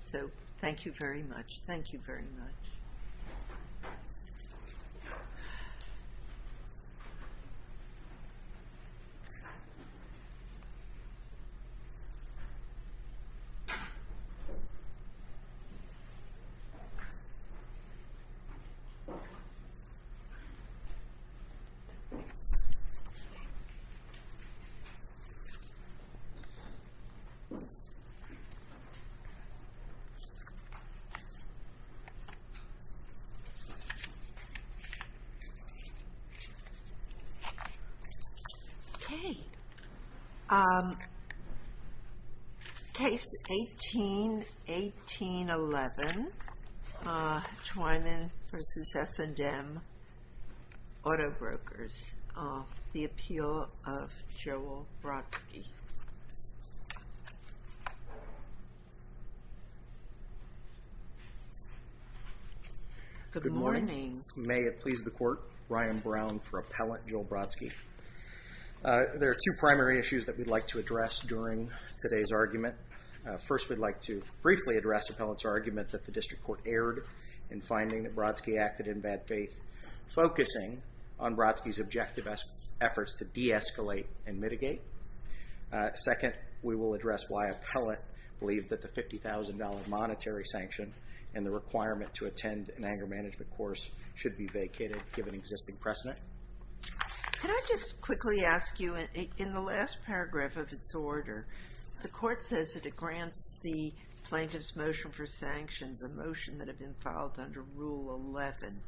So, thank you very much. Thank you very much. Case 18-1811, Twyman v. S&M Auto Brokers, The Appeal of Joel Brodsky. Good morning. May it please the Court, Brian Brown for Appellant Joel Brodsky. There are two primary issues that we'd like to address during today's argument. First, we'd like to briefly address Appellant's argument that the District Court erred in finding that Brodsky acted in bad faith, focusing on Brodsky's objective efforts to de-escalate and mitigate. Second, we will address why Appellant believed that the $50,000 monetary sanction and the requirement to attend an anger management course should be vacated, given existing precedent. Could I just quickly ask you, in the last paragraph of its order, the Court says that it grants the plaintiff's motion for sanctions a motion that had been filed under Rule 11.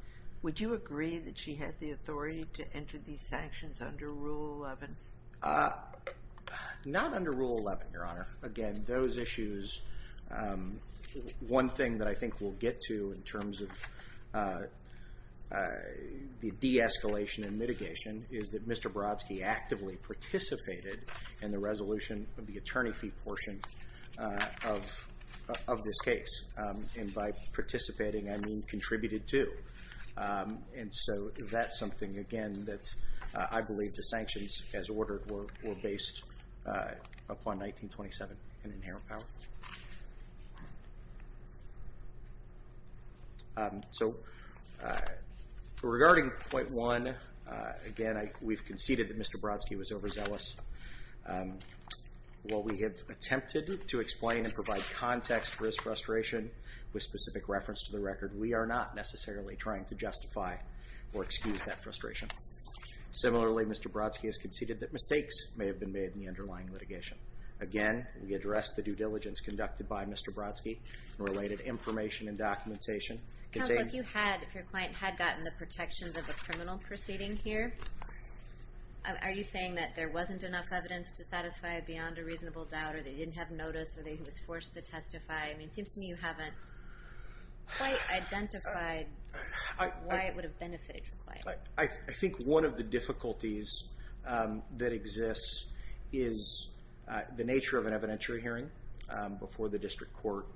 Would you agree that she had the authority to enter these sanctions under Rule 11? Not under Rule 11, Your Honor. Again, those issues, one thing that I think we'll get to in terms of the de-escalation and mitigation is that Mr. Brodsky actively participated in the resolution of the attorney fee portion of this case. And by participating, I mean contributed to. And so that's something, again, that I believe the sanctions, as ordered, were based upon 1927 and inherent power. So regarding point one, again, we've conceded that Mr. Brodsky was overzealous. While we have attempted to explain and provide context for his frustration with specific reference to the record, we are not necessarily trying to justify or excuse that frustration. Similarly, Mr. Brodsky has conceded that mistakes may have been made in the underlying litigation. Again, we address the due diligence conducted by Mr. Brodsky in related information and documentation. Counsel, if your client had gotten the protections of the criminal proceeding here, are you saying that there wasn't enough evidence to satisfy it beyond a reasonable doubt, or they didn't have notice, or they was forced to testify? I mean, it seems to me you haven't quite identified why it would have benefited your client. I think one of the difficulties that exists is the nature of an evidentiary hearing before the district court.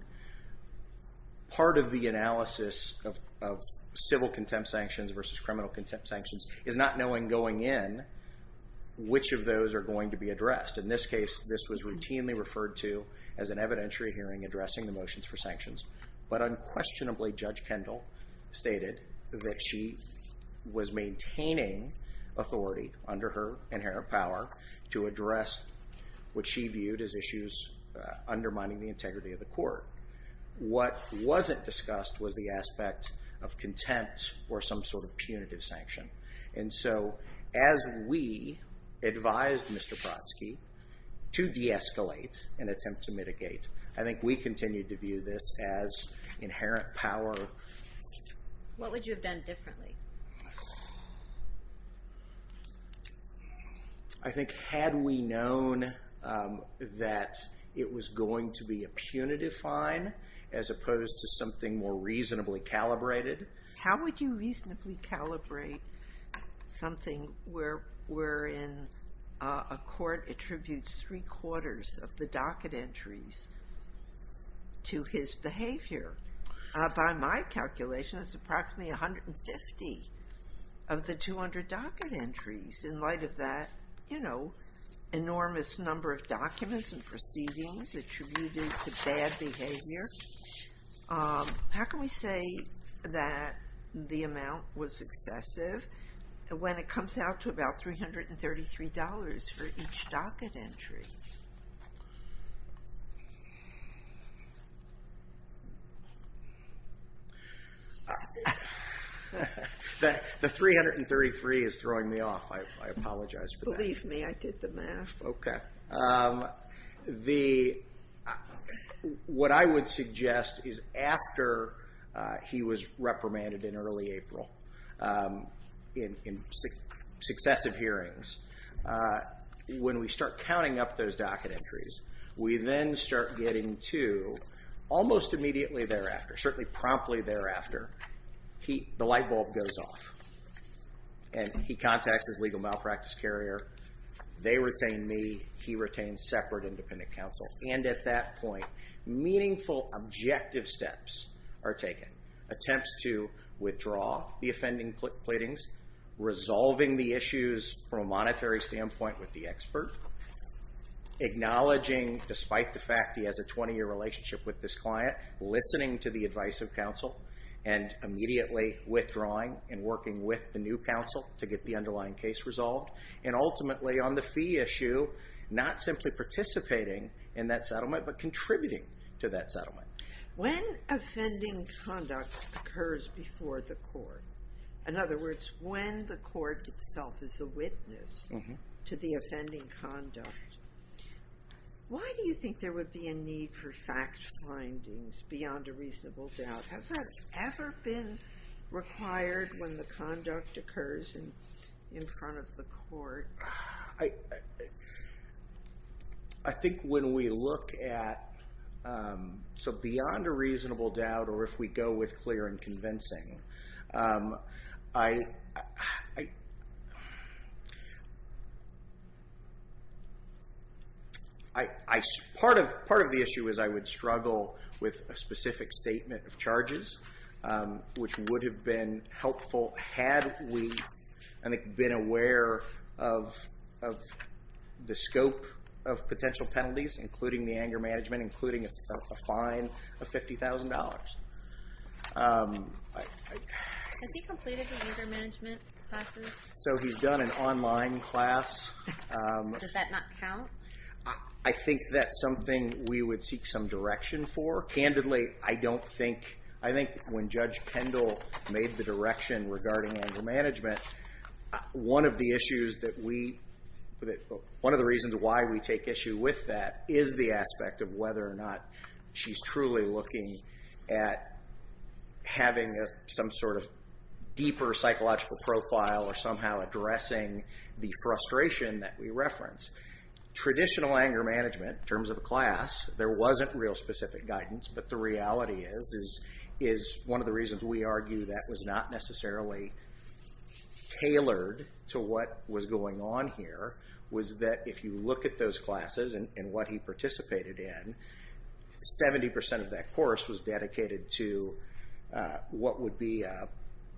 Part of the analysis of civil contempt sanctions versus criminal contempt sanctions is not knowing going in which of those are going to be addressed. In this case, this was routinely referred to as an evidentiary hearing addressing the motions for sanctions. But unquestionably, Judge Kendall stated that she was maintaining authority under her inherent power to address what she viewed as issues undermining the integrity of the court. What wasn't discussed was the aspect of contempt or some sort of punitive sanction. And so as we advised Mr. Brodsky to de-escalate and attempt to mitigate, I think we continued to view this as inherent power. What would you have done differently? I think had we known that it was going to be a punitive fine as opposed to something more reasonably calibrated. How would you reasonably calibrate something wherein a court attributes three quarters of the docket entries to his behavior? By my calculation, it's approximately 150 of the 200 docket entries. In light of that, you know, enormous number of documents and proceedings attributed to bad behavior. How can we say that the amount was excessive when it comes out to about $333 for each docket entry? The $333 is throwing me off. I apologize for that. What I would suggest is after he was reprimanded in early April in successive hearings, when we start counting up those docket entries, we then start getting to almost immediately thereafter, certainly promptly thereafter, the light bulb goes off. And he contacts his legal malpractice carrier. They retain me. He retains separate independent counsel. And at that point, meaningful objective steps are taken. Attempts to withdraw the offending pleadings. Resolving the issues from a monetary standpoint with the expert. Acknowledging despite the fact he has a 20-year relationship with this client. Listening to the advice of counsel. And immediately withdrawing and working with the new counsel to get the underlying case resolved. And ultimately on the fee issue, not simply participating in that settlement, but contributing to that settlement. When offending conduct occurs before the court, in other words, when the court itself is a witness to the offending conduct, why do you think there would be a need for fact findings beyond a reasonable doubt? Has that ever been required when the conduct occurs in front of the court? I think when we look at, so beyond a reasonable doubt, or if we go with clear and convincing, I... Part of the issue is I would struggle with a specific statement of charges, which would have been helpful had we been aware of the scope of potential penalties, including the anger management, including a fine of $50,000. Has he completed the anger management classes? So he's done an online class. Does that not count? I think that's something we would seek some direction for. Candidly, I don't think... I think when Judge Pendle made the direction regarding anger management, one of the issues that we... One of the reasons why we take issue with that is the aspect of whether or not she's truly looking at having some sort of deeper psychological profile or somehow addressing the frustration that we reference. Traditional anger management, in terms of a class, there wasn't real specific guidance, but the reality is one of the reasons we argue that was not necessarily tailored to what was going on here was that if you look at those classes and what he participated in, 70% of that course was dedicated to what would be...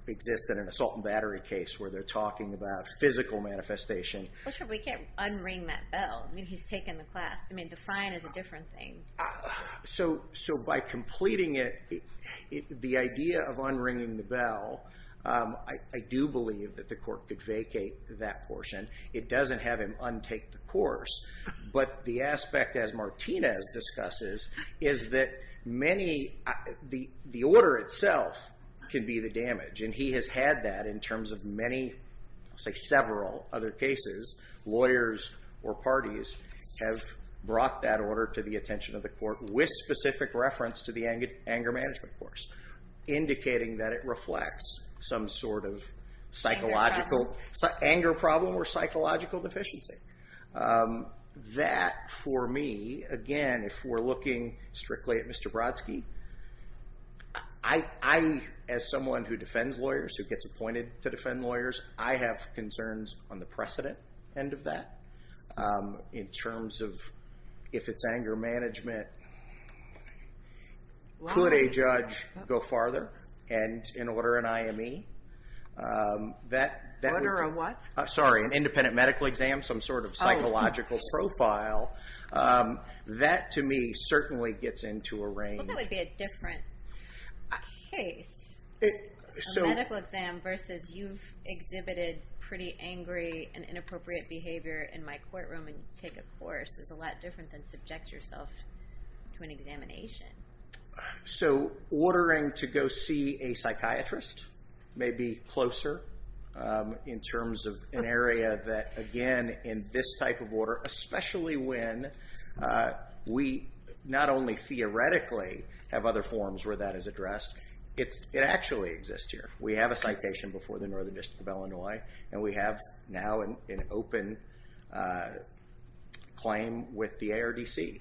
exist in an assault and battery case where they're talking about physical manifestation. But we can't unring that bell. I mean, he's taken the class. I mean, the fine is a different thing. So by completing it, the idea of unringing the bell, I do believe that the court could vacate that portion. It doesn't have him untake the course, but the aspect, as Martinez discusses, is that many... The order itself can be the damage, and he has had that in terms of many, say, several other cases. Lawyers or parties have brought that order to the attention of the court with specific reference to the anger management course, indicating that it reflects some sort of psychological... That, for me, again, if we're looking strictly at Mr. Brodsky, I, as someone who defends lawyers, who gets appointed to defend lawyers, I have concerns on the precedent end of that in terms of if it's anger management. Could a judge go farther and order an IME? Order a what? Sorry, an independent medical exam, some sort of psychological profile. That, to me, certainly gets into a range. Well, that would be a different case. A medical exam versus you've exhibited pretty angry and inappropriate behavior in my courtroom and take a course is a lot different than subject yourself to an examination. So ordering to go see a psychiatrist, maybe closer in terms of an area that, again, in this type of order, especially when we not only theoretically have other forms where that is addressed, it actually exists here. We have a citation before the Northern District of Illinois, and we have now an open claim with the ARDC.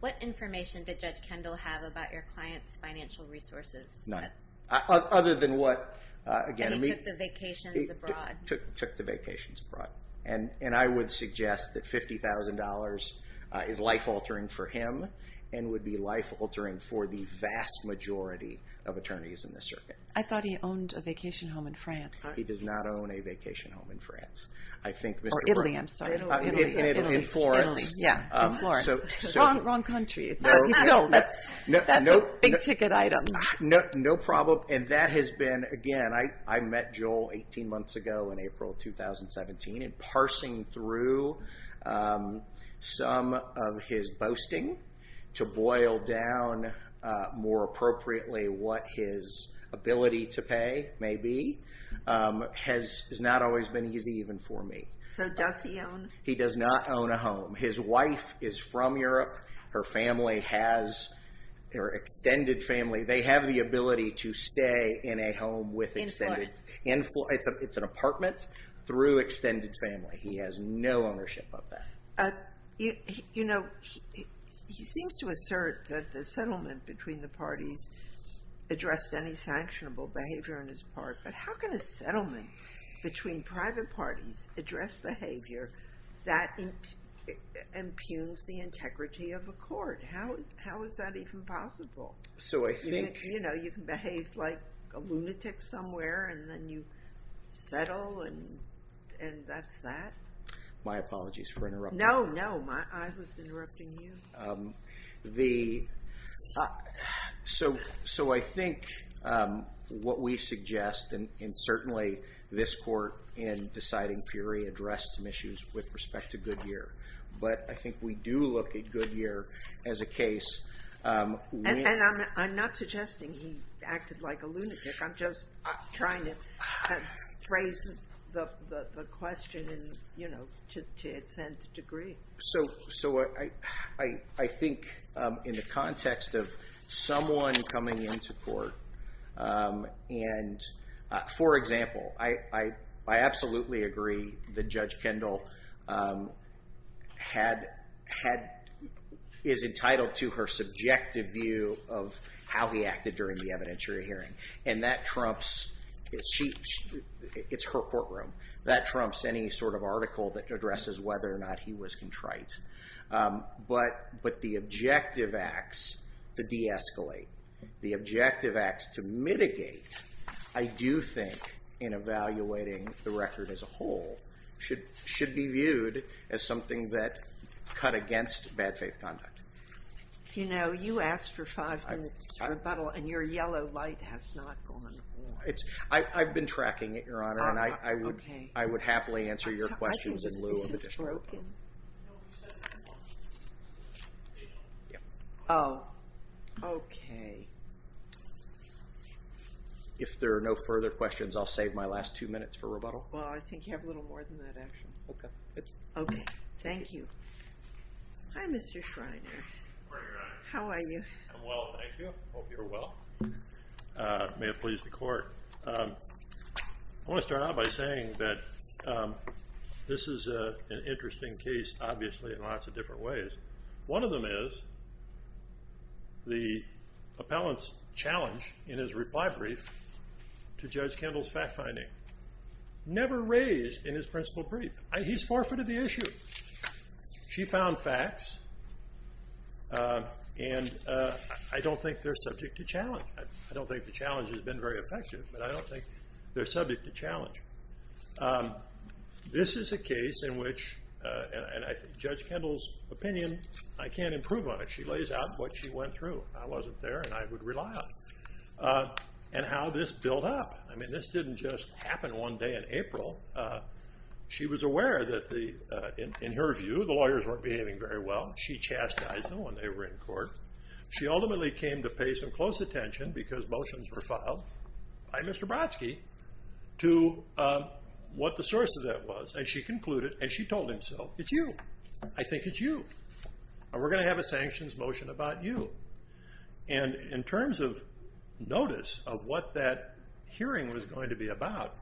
What information did Judge Kendall have about your client's financial resources? None. Other than what? That he took the vacations abroad. Took the vacations abroad. And I would suggest that $50,000 is life-altering for him and would be life-altering for the vast majority of attorneys in this circuit. I thought he owned a vacation home in France. He does not own a vacation home in France. Or Italy, I'm sorry. In Florence. Wrong country. That's a big-ticket item. No problem. And that has been, again, I met Joel 18 months ago in April 2017, and parsing through some of his boasting to boil down more appropriately what his ability to pay may be has not always been easy even for me. He does not own a home. His wife is from Europe. Her family has their extended family. They have the ability to stay in a home with extended. In Florence. It's an apartment through extended family. He has no ownership of that. You know, he seems to assert that the settlement between the parties addressed any sanctionable behavior on his part, but how can a settlement between private parties address behavior that impugns the integrity of a court? How is that even possible? So I think. You know, you can behave like a lunatic somewhere, and then you settle, and that's that. My apologies for interrupting. No, no. I was interrupting you. So I think what we suggest, and certainly this court in deciding fury addressed some issues with respect to Goodyear, but I think we do look at Goodyear as a case. And I'm not suggesting he acted like a lunatic. I'm just trying to phrase the question to its nth degree. So I think in the context of someone coming into court and, for example, I absolutely agree that Judge Kendall is entitled to her subjective view of how he acted during the evidentiary hearing. And that trumps. It's her courtroom. That trumps any sort of article that addresses whether or not he was contrite. But the objective acts, the de-escalate. The objective acts to mitigate, I do think, in evaluating the record as a whole, should be viewed as something that cut against bad faith conduct. You know, you asked for five minutes rebuttal, and your yellow light has not gone on. I've been tracking it, Your Honor, and I would happily answer your questions in lieu of additional rebuttal. Oh, okay. If there are no further questions, I'll save my last two minutes for rebuttal. Well, I think you have a little more than that, actually. Okay. Okay. Thank you. Hi, Mr. Schreiner. Good morning, Your Honor. How are you? I'm well, thank you. Hope you're well. May it please the Court. I want to start out by saying that this is an interesting case, obviously, in lots of different ways. One of them is the appellant's challenge in his reply brief to Judge Kendall's fact-finding never raised in his principal brief. He's forfeited the issue. She found facts, and I don't think they're subject to challenge. I don't think the challenge has been very effective, but I don't think they're subject to challenge. This is a case in which, and I think Judge Kendall's opinion, I can't improve on it. She lays out what she went through. I wasn't there, and I would rely on it, and how this built up. I mean, this didn't just happen one day in April. She was aware that, in her view, the lawyers weren't behaving very well. She chastised them when they were in court. She ultimately came to pay some close attention, because motions were filed by Mr. Brodsky, to what the source of that was, and she concluded, and she told him so, it's you. I think it's you. We're going to have a sanctions motion about you. And in terms of notice of what that hearing was going to be about,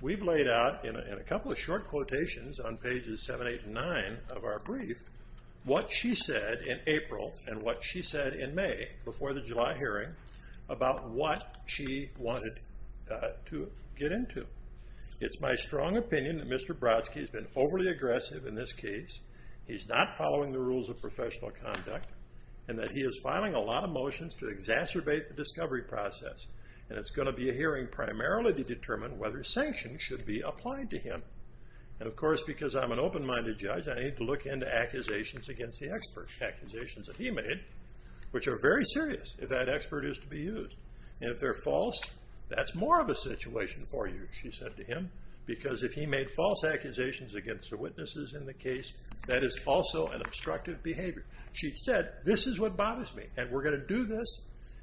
we've laid out, in a couple of short quotations on pages 7, 8, and 9 of our brief, what she said in April, and what she said in May, before the July hearing, about what she wanted to get into. It's my strong opinion that Mr. Brodsky has been overly aggressive in this case. He's not following the rules of professional conduct, and that he is filing a lot of motions to exacerbate the discovery process, and it's going to be a hearing primarily to determine whether sanctions should be applied to him. And, of course, because I'm an open-minded judge, I need to look into accusations against the experts. Accusations that he made, which are very serious, if that expert is to be used. And if they're false, that's more of a situation for you, she said to him, because if he made false accusations against the witnesses in the case, that is also an obstructive behavior. She said, this is what bothers me, and we're going to do this.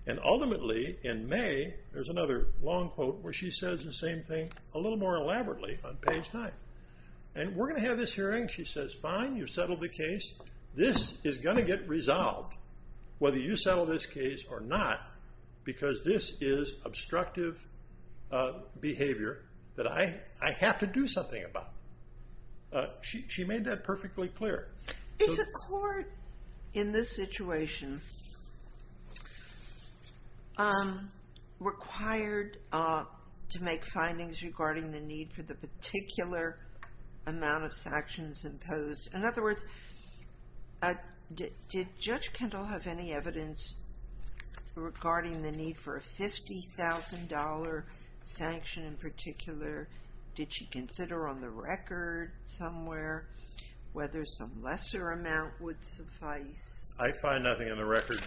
And ultimately, in May, there's another long quote where she says the same thing a little more elaborately on page 9. And we're going to have this hearing, she says, fine, you've settled the case. This is going to get resolved, whether you settle this case or not, because this is obstructive behavior that I have to do something about. She made that perfectly clear. Is a court, in this situation, required to make findings regarding the need for a particular amount of sanctions imposed? In other words, did Judge Kendall have any evidence regarding the need for a $50,000 sanction in particular? Did she consider on the record somewhere whether some lesser amount would suffice? I find nothing on the record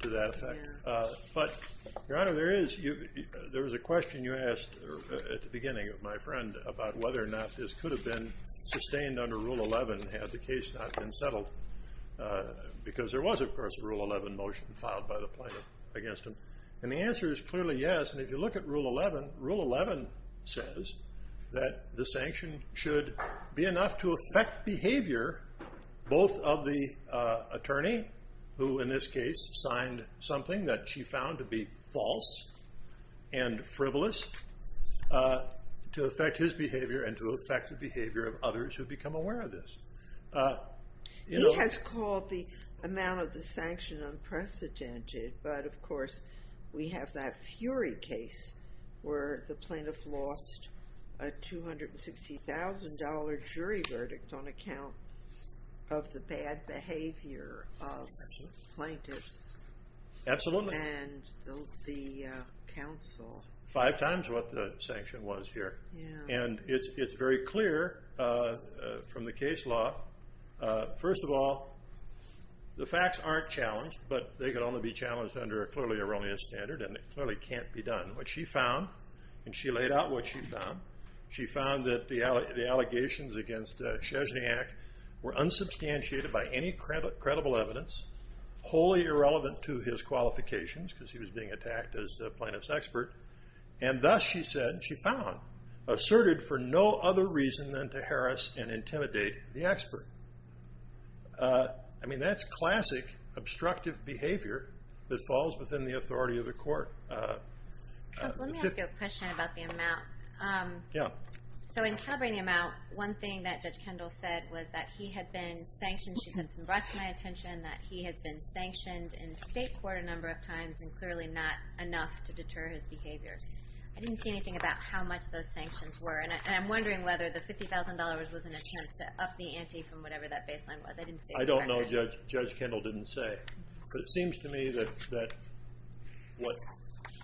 to that effect. But, Your Honor, there is. There was a question you asked at the beginning, my friend, about whether or not this could have been sustained under Rule 11 had the case not been settled. Because there was, of course, a Rule 11 motion filed by the plaintiff against him. And the answer is clearly yes. And if you look at Rule 11, Rule 11 says that the sanction should be enough to affect behavior both of the attorney, who in this case signed something that she found to be false and frivolous, to affect his behavior and to affect the behavior of others who become aware of this. He has called the amount of the sanction unprecedented. But, of course, we have that Fury case where the plaintiff lost a $260,000 jury verdict on account of the bad behavior of plaintiffs. Absolutely. And the counsel... Five times what the sanction was here. And it's very clear from the case law. First of all, the facts aren't challenged, but they can only be challenged under a clearly erroneous standard and it clearly can't be done. What she found, and she laid out what she found, she found that the allegations against Chezniak were unsubstantiated by any credible evidence, wholly irrelevant to his qualifications because he was being attacked as the plaintiff's expert, and thus, she said, she found, asserted for no other reason than to harass and intimidate the expert. I mean, that's classic obstructive behavior that falls within the authority of the court. Counsel, let me ask you a question about the amount. Yeah. So in calibrating the amount, one thing that Judge Kendall said was that he had been sanctioned, she said, it's been brought to my attention that he has been sanctioned in state court a number of times and clearly not enough to deter his behavior. I didn't see anything about how much those sanctions were, and I'm wondering whether the $50,000 was an attempt to up the ante from whatever that baseline was. I didn't see it. I don't know, Judge Kendall didn't say, but it seems to me that what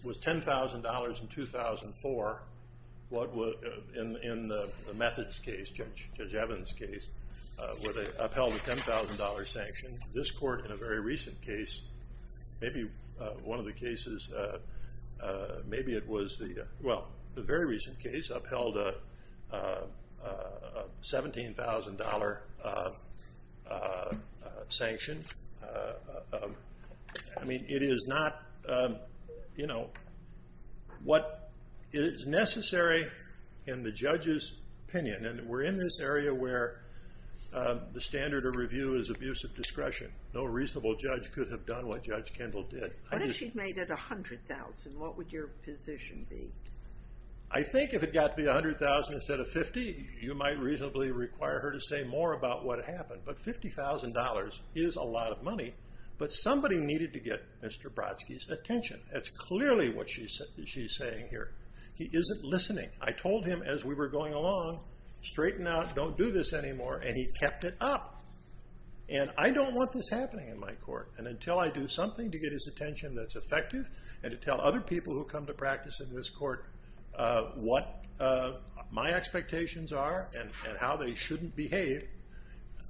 was $10,000 in 2004, in the Methods case, Judge Evans' case, where they upheld the $10,000 sanction, this court in a very recent case maybe one of the cases, maybe it was the, well, the very recent case upheld a $17,000 sanction. I mean, it is not, you know, what is necessary in the judge's opinion, and we're in this area where the standard of review is abuse of discretion. No reasonable judge could have done what Judge Kendall did. What if she'd made it $100,000? What would your position be? I think if it got to be $100,000 instead of $50,000, you might reasonably require her to say more about what happened, but $50,000 is a lot of money, but somebody needed to get Mr. Brodsky's attention. That's clearly what she's saying here. He isn't listening. I told him as we were going along, straighten out, don't do this anymore, and he kept it up. And I don't want this happening in my court, and until I do something to get his attention that's effective and to tell other people who come to practice in this court what my expectations are and how they shouldn't behave,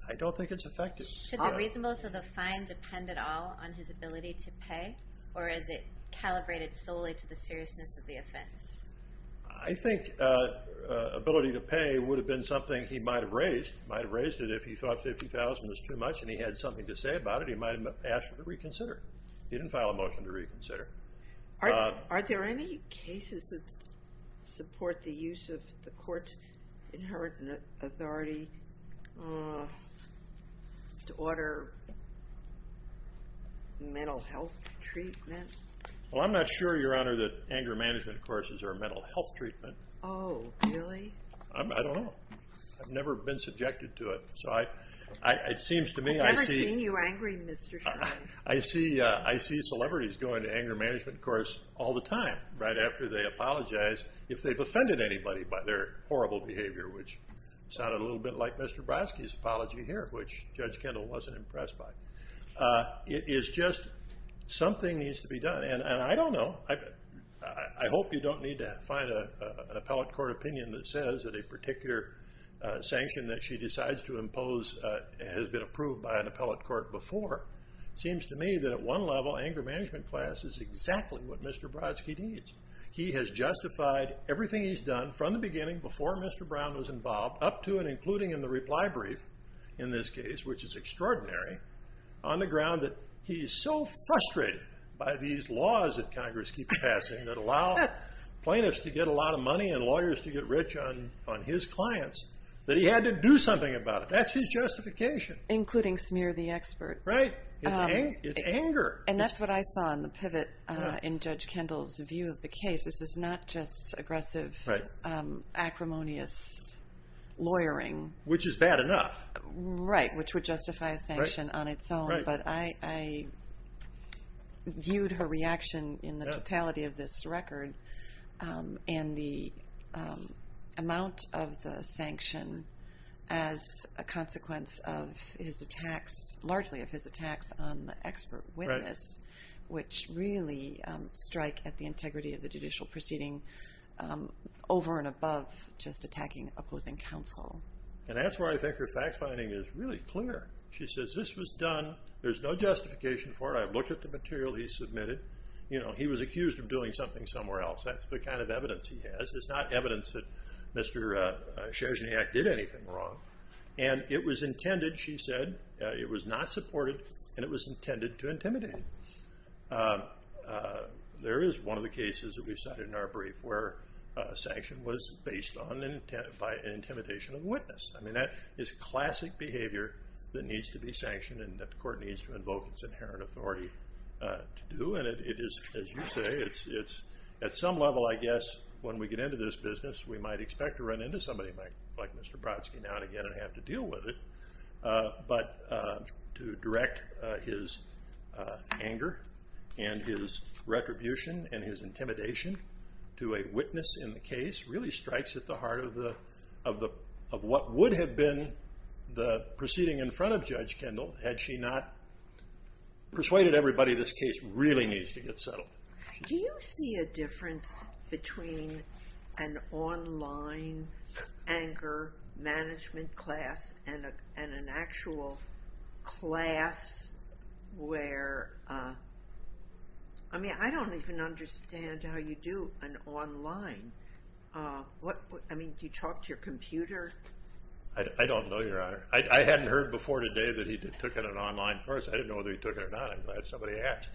I don't think it's effective. Should the reasonableness of the fine depend at all on his ability to pay, or is it calibrated solely to the seriousness of the offense? I think ability to pay would have been something he might have raised. He might have raised it if he thought $50,000 was too much and he had something to say about it. He might have asked her to reconsider. He didn't file a motion to reconsider. Are there any cases that support the use of the court's inherent authority to order mental health treatment? Well, I'm not sure, Your Honor, that anger management courses are mental health treatment. Oh, really? I don't know. I've never been subjected to it. I've never seen you angry, Mr. Sheldon. I see celebrities go into anger management course all the time right after they apologize if they've offended anybody by their horrible behavior, which sounded a little bit like Mr. Brodsky's apology here, which Judge Kendall wasn't impressed by. It is just something needs to be done, and I don't know. I hope you don't need to find an appellate court opinion that says that a particular sanction that she decides to impose has been approved by an appellate court before. It seems to me that at one level, anger management class is exactly what Mr. Brodsky needs. He has justified everything he's done from the beginning, before Mr. Brown was involved, up to and including in the reply brief in this case, which is extraordinary, on the ground that he is so frustrated by these laws that Congress keeps passing that allow plaintiffs to get a lot of money and lawyers to get rich on his clients, that he had to do something about it. That's his justification. Including smear the expert. Right. It's anger. And that's what I saw in the pivot in Judge Kendall's view of the case. This is not just aggressive, acrimonious lawyering. Which is bad enough. Right, which would justify a sanction on its own, but I viewed her reaction in the totality of this record, and the amount of the sanction as a consequence of his attacks, largely of his attacks on the expert witness, which really strike at the integrity of the judicial proceeding, over and above just attacking opposing counsel. And that's where I think her fact-finding is really clear. She says, this was done, there's no justification for it. I've looked at the material he submitted. You know, he was accused of doing something somewhere else. That's the kind of evidence he has. It's not evidence that Mr. Sherzodniak did anything wrong. And it was intended, she said, it was not supported, and it was intended to intimidate him. There is one of the cases that we cited in our brief, where sanction was based on an intimidation of the witness. I mean, that is classic behavior that needs to be sanctioned, and that the court needs to invoke its inherent authority to do. And it is, as you say, at some level, I guess, when we get into this business, we might expect to run into somebody like Mr. Brodsky now and again and have to deal with it. But to direct his anger and his retribution and his intimidation to a witness in the case really strikes at the heart of what would have been the proceeding in front of Judge Kendall had she not persuaded everybody this case really needs to get settled. Do you see a difference between an online anger management class and an actual class where... I mean, I don't even understand how you do an online... I mean, do you talk to your computer? I don't know, Your Honor. I hadn't heard before today that he took an online course. I didn't know whether he took it or not. I'm glad somebody asked.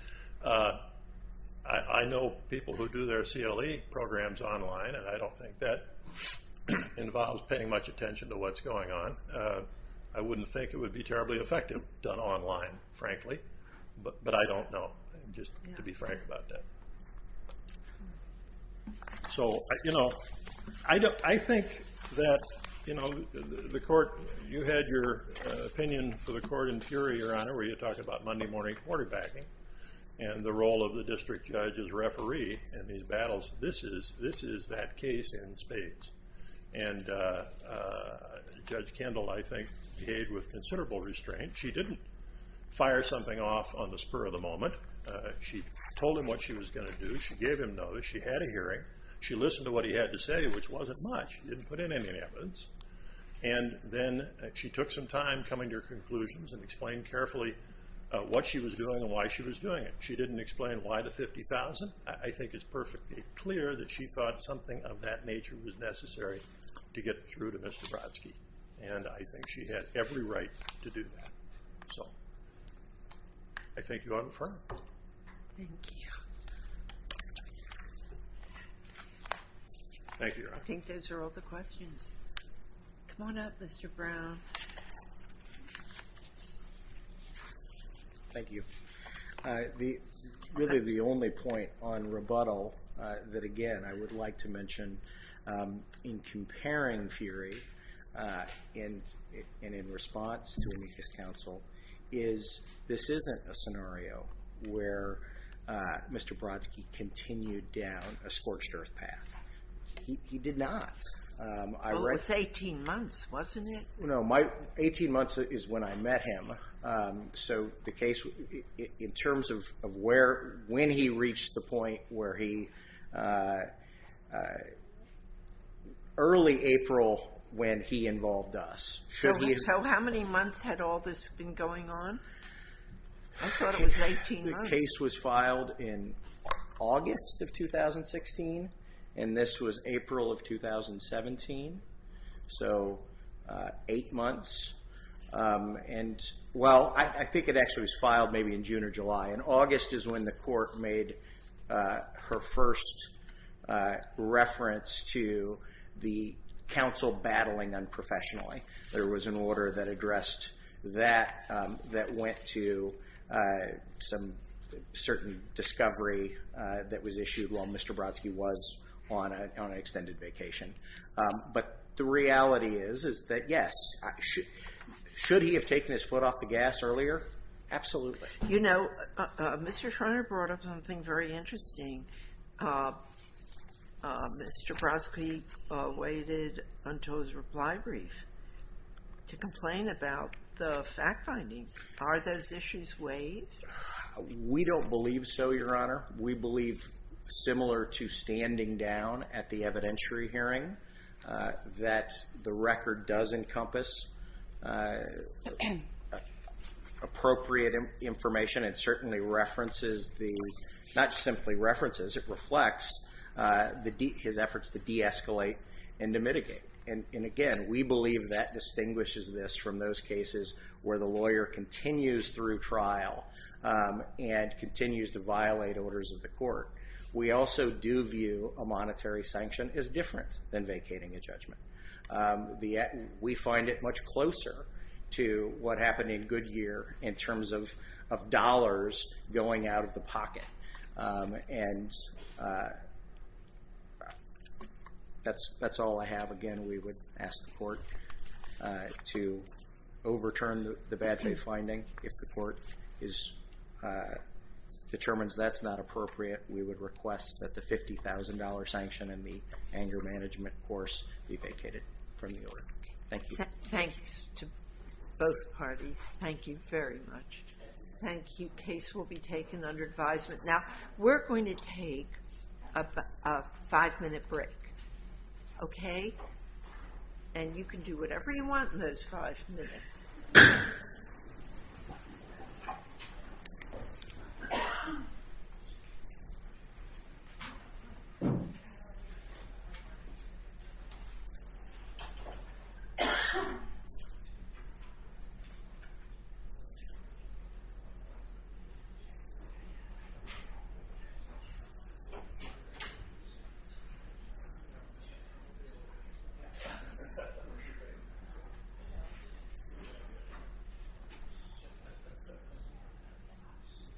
I know people who do their CLE programs online, and I don't think that involves paying much attention to what's going on. I wouldn't think it would be terribly effective done online, frankly, but I don't know, just to be frank about that. So, you know, I think that, you know, the court... You had your opinion for the court in Peoria, Your Honor, where you talked about Monday morning quarterbacking and the role of the district judge as referee in these battles. This is that case in spades. And Judge Kendall, I think, behaved with considerable restraint. She didn't fire something off on the spur of the moment. She told him what she was going to do. She gave him notice. She had a hearing. She listened to what he had to say, which wasn't much. She didn't put in any evidence. And then she took some time coming to her conclusions and explained carefully what she was doing and why she was doing it. She didn't explain why the $50,000. I think it's perfectly clear that she thought something of that nature was necessary to get through to Mr. Brodsky, and I think she had every right to do that. So I thank you, Your Honor, for that. Thank you. Thank you, Your Honor. I think those are all the questions. Come on up, Mr. Brown. Thank you. Really the only point on rebuttal that, again, I would like to mention in comparing Fury and in response to his counsel is this isn't a scenario where Mr. Brodsky continued down a scorched earth path. He did not. It was 18 months, wasn't it? No, 18 months is when I met him. So the case, in terms of when he reached the point where he early April when he involved us. How many months had all this been going on? I thought it was 18 months. The case was filed in August of 2016, and this was April of 2017. So eight months. Well, I think it actually was filed maybe in June or July, and August is when the court made her first reference to the counsel battling unprofessionally. There was an order that addressed that that went to some certain discovery that was issued while Mr. Brodsky was on an extended vacation. But the reality is that, yes, should he have taken his foot off the gas earlier? Absolutely. You know, Mr. Schreiner brought up something very interesting. Mr. Brodsky waited until his reply brief to complain about the fact findings. Are those issues waived? We don't believe so, Your Honor. We believe, similar to standing down at the evidentiary hearing, that the record does encompass appropriate information and certainly references the, not simply references, it reflects his efforts to de-escalate and to mitigate. And, again, we believe that distinguishes this from those cases where the lawyer continues through trial and continues to violate orders of the court. We also do view a monetary sanction as different than vacating a judgment. We find it much closer to what happened in Goodyear in terms of dollars going out of the pocket. And that's all I have. Again, we would ask the court to overturn the bad faith finding. If the court determines that's not appropriate, we would request that the $50,000 sanction and the anger management course be vacated from the order. Thank you. Thanks to both parties. Thank you very much. Thank you. Case will be taken under advisement. Now, we're going to take a five-minute break. Okay? And you can do whatever you want in those five minutes. Thank you.